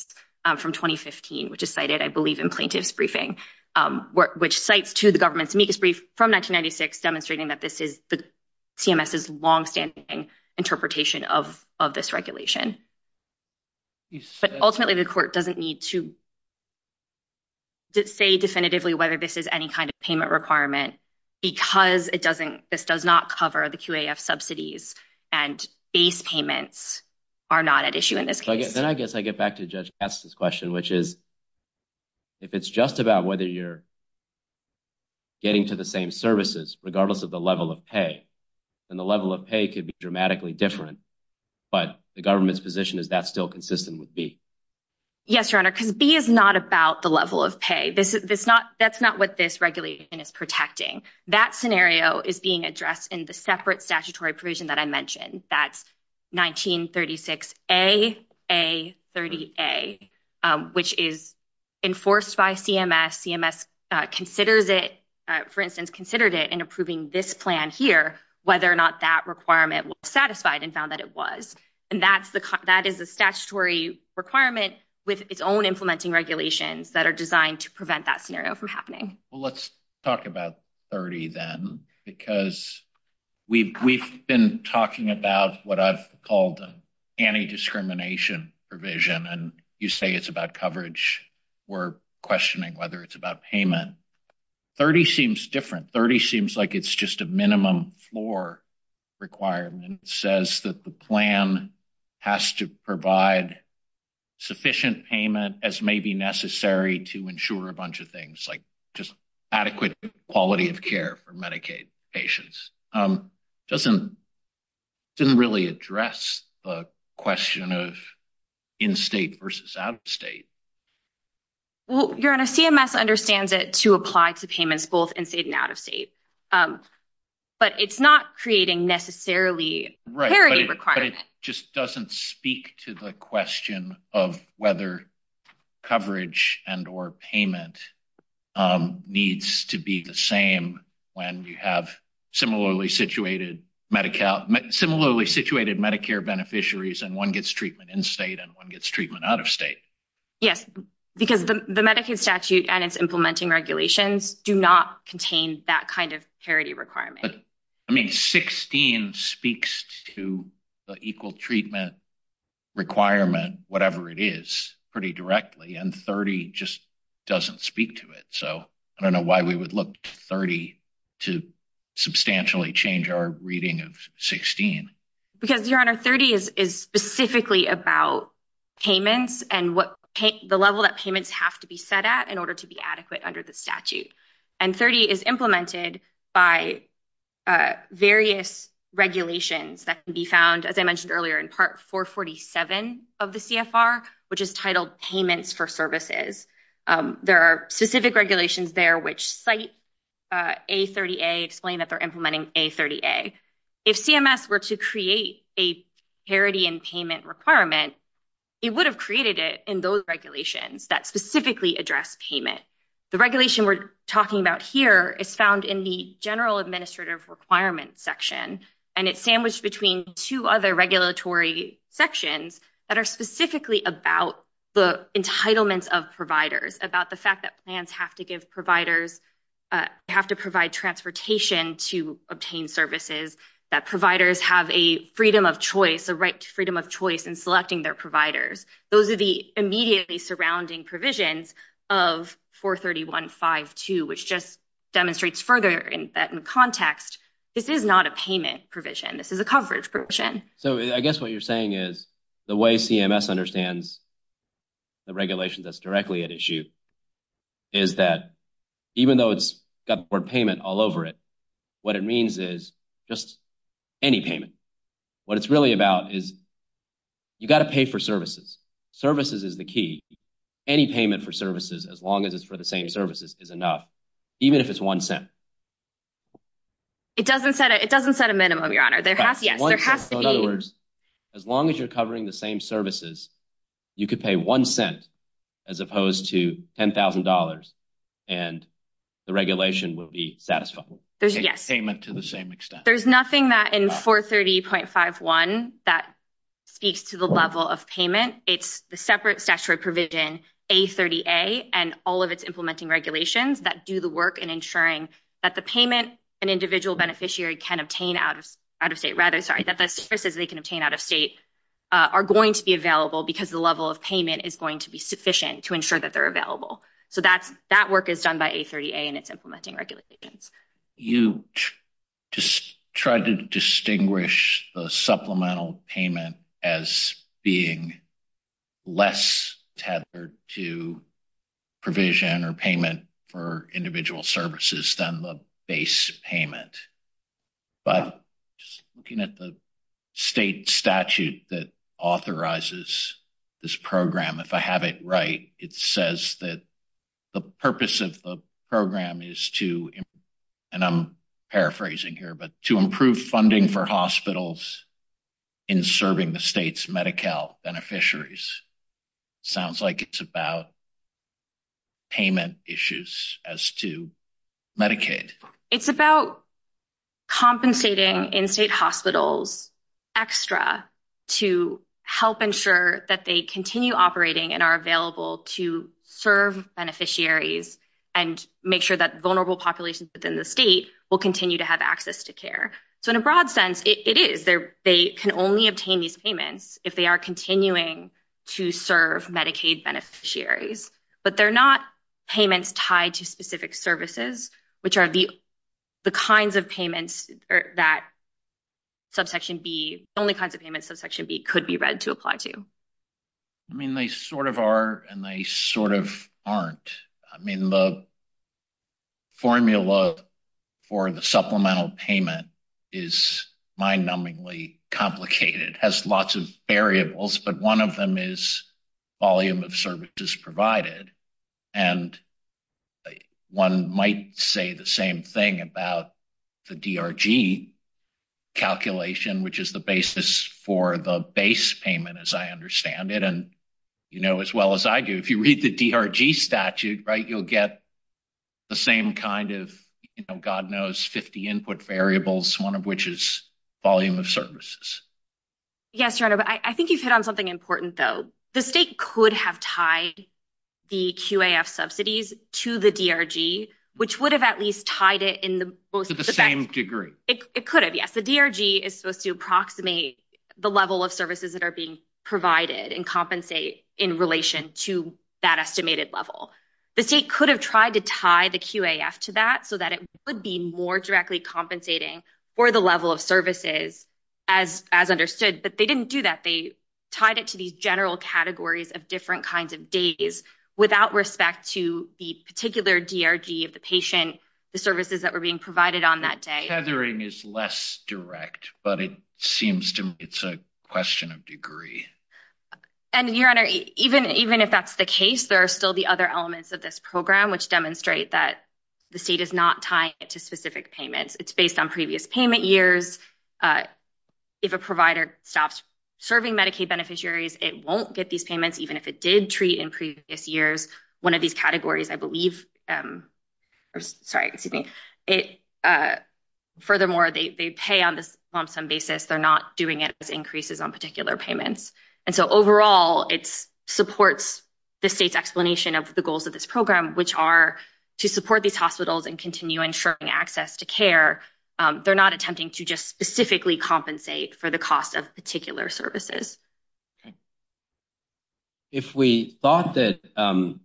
from 2015, which is cited, I believe, in plaintiff's briefing, which cites to the government's amicus brief from 1996, demonstrating that this is CMS' longstanding interpretation of this regulation. But ultimately, the court doesn't need to say definitively whether this is any kind of payment requirement because this does not cover the QAF subsidies and base payments are not at issue in this case. Then I guess I get back to Judge Katz's question, which is, if it's just about whether you're getting to the same services, regardless of the level of pay, then the level of pay could be dramatically different. But the government's position is that's still consistent with B? Yes, Your Honor, because B is not about the level of pay. That's not what this regulation is protecting. That scenario is being addressed in the separate statutory provision that I mentioned. That's 1936A.A.30A, which is enforced by CMS. CMS considers it, for instance, considered it in approving this plan here, whether or not that requirement was satisfied and found that it was. That is a statutory requirement with its own implementing regulations that are designed to 30 then because we've been talking about what I've called anti-discrimination provision, and you say it's about coverage. We're questioning whether it's about payment. 30 seems different. 30 seems like it's just a minimum floor requirement. It says that the plan has to provide sufficient payment as may be necessary to ensure a bunch of things like adequate quality of care for Medicaid patients. It doesn't really address the question of in-state versus out-of-state. Well, Your Honor, CMS understands it to apply to payments both in-state and out-of-state, but it's not creating necessarily parity requirements. But it just doesn't speak to the question of whether coverage and or payment needs to be the same when you have similarly situated Medicare beneficiaries and one gets treatment in-state and one gets treatment out-of-state. Yes, because the Medicaid statute and its implementing regulations do not contain that parity requirement. 16 speaks to the equal treatment requirement, whatever it is, pretty directly, and 30 just doesn't speak to it. I don't know why we would look to 30 to substantially change our reading of 16. Because, Your Honor, 30 is specifically about payments and the level that payments have to be set at in order to be adequate under the statute. And 30 is implemented by various regulations that can be found, as I mentioned earlier, in Part 447 of the CFR, which is titled Payments for Services. There are specific regulations there which cite A30A, explain that they're implementing A30A. If CMS were to create a parity and payment requirement, it would have created it in those regulations that specifically address payment. The regulation we're talking about here is found in the General Administrative Requirements section, and it's sandwiched between two other regulatory sections that are specifically about the entitlements of providers, about the fact that plans have to provide transportation to obtain services, that providers have a freedom of choice, a right to freedom of choice in selecting their providers. Those are the immediately surrounding provisions of 431.5.2, which just demonstrates further in context, this is not a payment provision. This is a coverage provision. So I guess what you're saying is the way CMS understands the regulation that's directly at issue is that even though it's got the word payment all over it, what it means is just any payment. What it's really about is you got to pay for services. Services is the key. Any payment for services, as long as it's for the same services, is enough, even if it's one cent. It doesn't set a minimum, Your Honor. Yes, there has to be. So in other words, as long as you're covering the same services, you could pay one cent as opposed to $10,000, and the regulation will be satisfied. There's a payment to the same extent. There's nothing that in 430.51 that speaks to the level of payment. It's the separate statutory provision, A30A, and all of its implementing regulations that do the work in ensuring that the payment an individual beneficiary can obtain out of state, rather, sorry, that the services they can obtain out of state are going to be available because the level of payment is going to be sufficient to ensure that they're available. So that work is done by A30A and tried to distinguish the supplemental payment as being less tethered to provision or payment for individual services than the base payment. But just looking at the state statute that authorizes this program, if I have it right, it says that the purpose of the and I'm paraphrasing here, but to improve funding for hospitals in serving the state's Medi-Cal beneficiaries. Sounds like it's about payment issues as to Medicaid. It's about compensating in-state hospitals extra to help ensure that they continue operating and available to serve beneficiaries and make sure that vulnerable populations within the state will continue to have access to care. So in a broad sense, it is. They can only obtain these payments if they are continuing to serve Medicaid beneficiaries. But they're not payments tied to specific services, which are the kinds of payments that subsection B, only kinds of payments subsection B could be read to apply to. I mean, they sort of are and they sort of aren't. I mean, the formula for the supplemental payment is mind numbingly complicated, has lots of variables, but one of them is volume of services provided. And one might say the same thing about the DRG calculation, which is the basis for the payment, as I understand it. And, you know, as well as I do, if you read the DRG statute, right, you'll get the same kind of, you know, God knows 50 input variables, one of which is volume of services. Yes, your honor. I think you've hit on something important, though. The state could have tied the QAF subsidies to the DRG, which would have at least tied it in the most of the same degree. It could have. Yes. The DRG is supposed to approximate the level of services that are being provided and compensate in relation to that estimated level. The state could have tried to tie the QAF to that so that it would be more directly compensating for the level of services as understood. But they didn't do that. They tied it to these general categories of different kinds of days without respect to the particular DRG of the patient, the services that were being provided on that day. Tethering is less direct, but it seems to me it's a question of degree. And your honor, even if that's the case, there are still the other elements of this program which demonstrate that the state is not tying it to specific payments. It's based on previous payment years. If a provider stops serving Medicaid beneficiaries, it won't get these payments, even if it did treat in previous years. One of these categories, I believe, or sorry, excuse me. Furthermore, they pay on this on some basis. They're not doing it as increases on particular payments. And so overall, it supports the state's explanation of the goals of this program, which are to support these hospitals and continue ensuring access to care. They're not attempting to just specifically compensate for the cost of particular services. Okay. If we thought that, or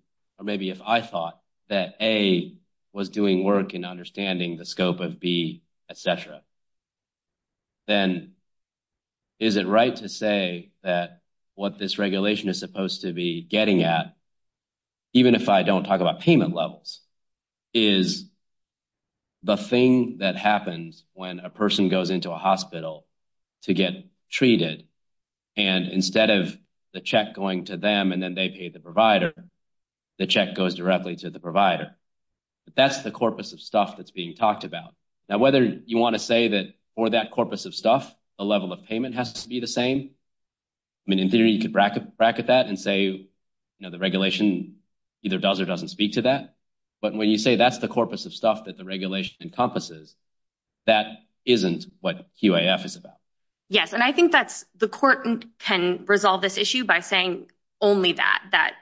maybe if I thought that A was doing work in understanding the scope of B, et cetera, then is it right to say that what this regulation is supposed to be getting at, even if I don't talk about payment levels, is the thing that happens when a person goes into a hospital to get treated. And instead of the check going to them and then they pay the provider, the check goes directly to the provider. But that's the corpus of stuff that's being talked about. Now, whether you want to say that for that corpus of stuff, the level of payment has to be the same. I mean, in theory, you could bracket that and say, you know, the regulation either does or doesn't speak to that. But when you say that's the corpus of stuff that the regulation encompasses, that isn't what QAF is about. Yes. And I think that the court can resolve this issue by saying only that, that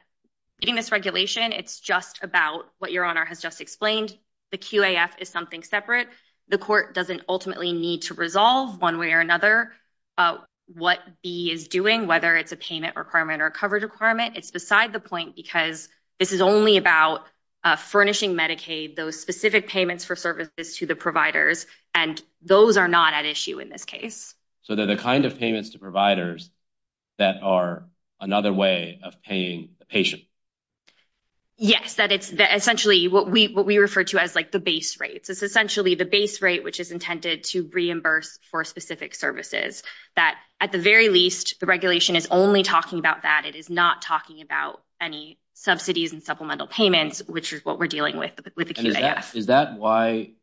in this regulation, it's just about what your honor has just explained. The QAF is something separate. The court doesn't ultimately need to resolve one way or another what B is doing, whether it's a payment requirement or a coverage requirement. It's beside the point because this is only about furnishing Medicaid, those specific payments for services to the providers. And those are not at issue in this case. So they're the kind of payments to providers that are another way of paying the patient. Yes, that it's essentially what we what we refer to as like the base rates. It's essentially the base rate which is intended to reimburse for specific services that at the very least the regulation is only talking about that. It is not talking about any subsidies and supplemental payments, which is what we're talking about. Is that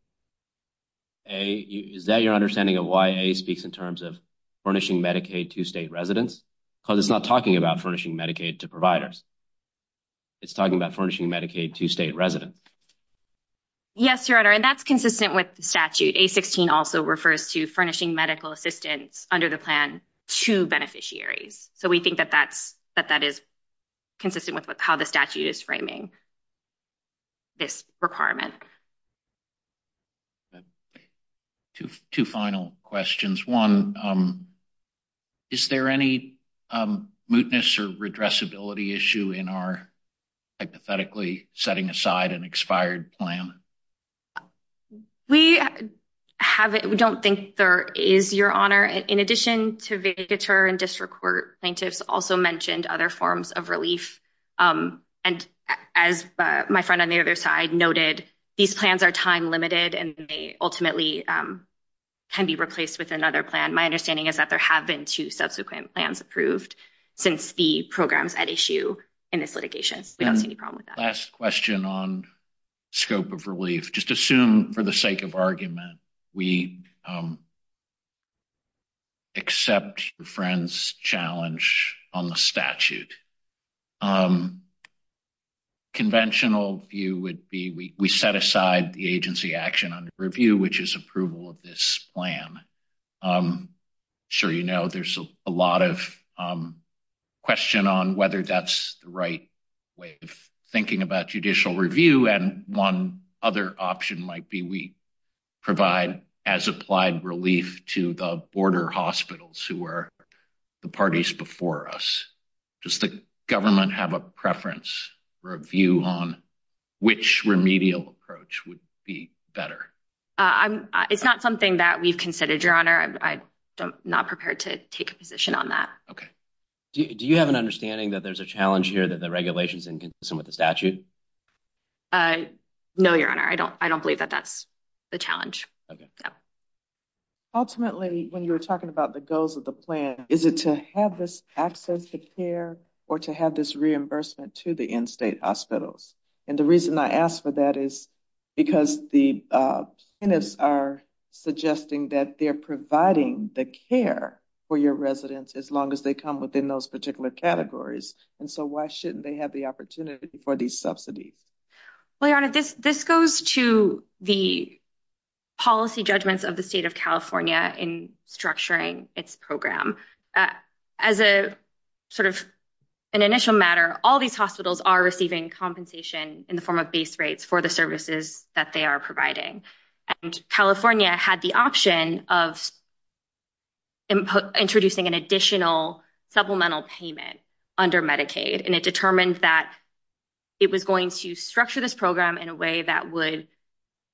your understanding of why A speaks in terms of furnishing Medicaid to state residents? Because it's not talking about furnishing Medicaid to providers. It's talking about furnishing Medicaid to state residents. Yes, your honor. And that's consistent with the statute. A-16 also refers to furnishing medical assistance under the plan to beneficiaries. So we think that that is consistent with how the statute is framing this requirement. Okay, two final questions. One, is there any mootness or redressability issue in our hypothetically setting aside an expired plan? We have it. We don't think there is, your honor. In addition to vacatur and district court plaintiffs also mentioned other forms of relief. And as my friend on the other side noted, these plans are time limited and they ultimately can be replaced with another plan. My understanding is that there have been two subsequent plans approved since the programs at issue in this litigation. We don't see any problem with that. Last question on scope of relief. Just assume for the sake of argument, we would accept your friend's challenge on the statute. Conventional view would be, we set aside the agency action under review, which is approval of this plan. I'm sure you know, there's a lot of question on whether that's the right way of thinking about judicial review. And other option might be we provide as applied relief to the border hospitals who were the parties before us. Does the government have a preference or a view on which remedial approach would be better? It's not something that we've considered your honor. I'm not prepared to take a position on that. Okay. Do you have an understanding that there's a challenge here that the regulation is inconsistent with the statute? No, your honor. I don't, I don't believe that that's the challenge. Okay. Ultimately, when you were talking about the goals of the plan, is it to have this access to care or to have this reimbursement to the in-state hospitals? And the reason I asked for that is because the plaintiffs are suggesting that they're providing the care for your residents as long as they come within those particular categories. And so why shouldn't they have the opportunity for these subsidies? Well, your honor, this, this goes to the policy judgments of the state of California in structuring its program as a sort of an initial matter. All these hospitals are receiving compensation in the form of base rates for the services that they are providing. And California had the option of introducing an additional supplemental payment under Medicaid. And it determined that it was going to structure this program in a way that would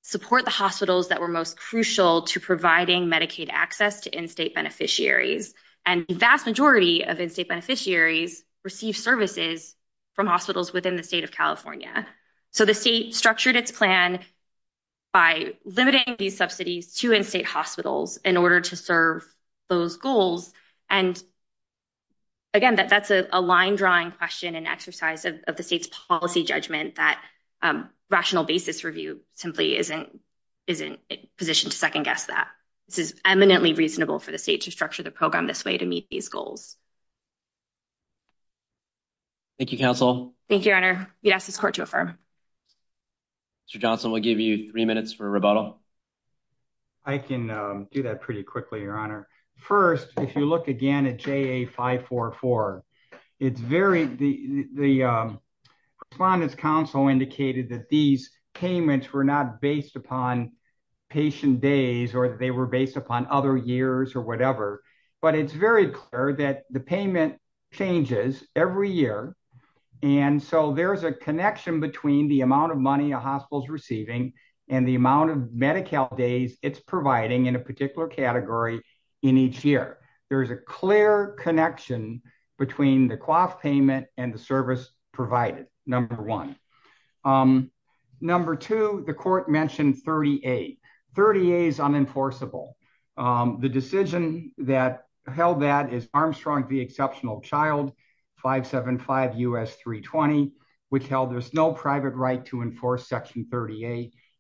support the hospitals that were most crucial to providing Medicaid access to in-state beneficiaries. And vast majority of in-state beneficiaries receive services from hospitals within the state of California. So the state structured its plan by limiting these subsidies to in-state hospitals in order to serve those goals. And again, that that's a line drawing question and exercise of the state's policy judgment that rational basis review simply isn't, isn't positioned to second-guess that. This is eminently reasonable for the state to structure the program this way to meet these goals. Thank you, counsel. Thank you, your honor. We ask this court to affirm. Mr. Johnson, we'll give you three minutes for rebuttal. I can do that pretty quickly, your honor. First, if you look again at JA 544, it's very, the respondent's counsel indicated that these payments were not based upon patient days, or they were based upon other years or whatever, but it's very clear that the payment changes every year. And so there's a connection between the amount of money a hospital's receiving and the amount of Medi-Cal days it's providing in a particular category in each year. There's a clear connection between the cloth payment and the service provided, number one. Number two, the court mentioned 30A. 30A is unenforceable. The decision that held that is Armstrong v.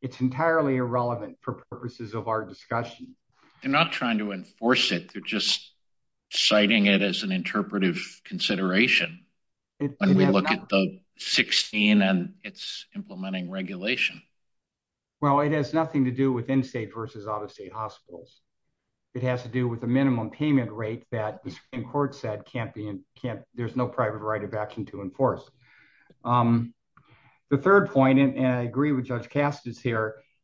It's entirely irrelevant for purposes of our discussion. They're not trying to enforce it. They're just citing it as an interpretive consideration when we look at the 16 and its implementing regulation. Well, it has nothing to do with in-state versus out-of-state hospitals. It has to do with the minimum payment rate that the Supreme Court said can't be, there's no private right of action to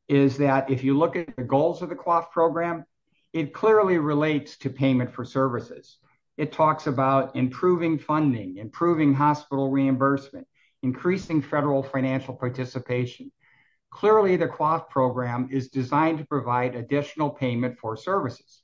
is that if you look at the goals of the cloth program, it clearly relates to payment for services. It talks about improving funding, improving hospital reimbursement, increasing federal financial participation. Clearly the cloth program is designed to provide additional payment for services.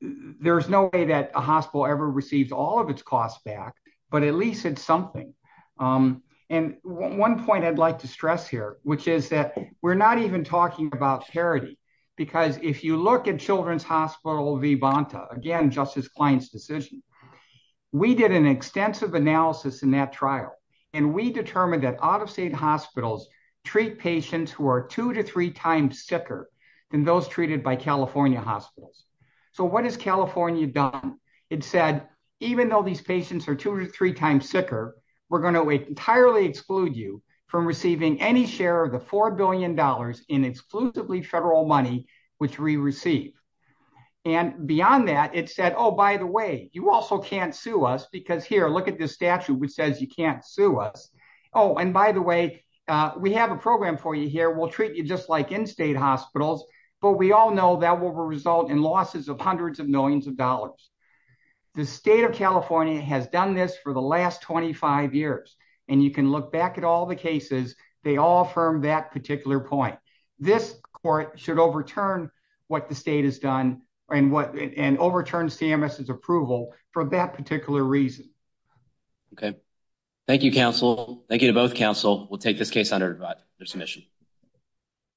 There's no way that a hospital ever receives all of its costs back, but at least it's something. And one point I'd like to stress here, which is that we're not even talking about charity. Because if you look at Children's Hospital v. Bonta, again, Justice Klein's decision, we did an extensive analysis in that trial and we determined that out-of-state hospitals treat patients who are two to three times sicker than those treated by California hospitals. So what has California done? It said, even though these patients are three times sicker, we're going to entirely exclude you from receiving any share of the $4 billion in exclusively federal money, which we receive. And beyond that, it said, oh, by the way, you also can't sue us because here, look at this statute, which says you can't sue us. Oh, and by the way, we have a program for you here. We'll treat you just like in-state hospitals, but we all know that will result in losses of hundreds of millions of dollars. The state of California has done this for the last 25 years. And you can look back at all the cases, they all affirm that particular point. This court should overturn what the state has done and overturn CMS's approval for that particular reason. Okay. Thank you, counsel. Thank you to both counsel. We'll take this case under submission.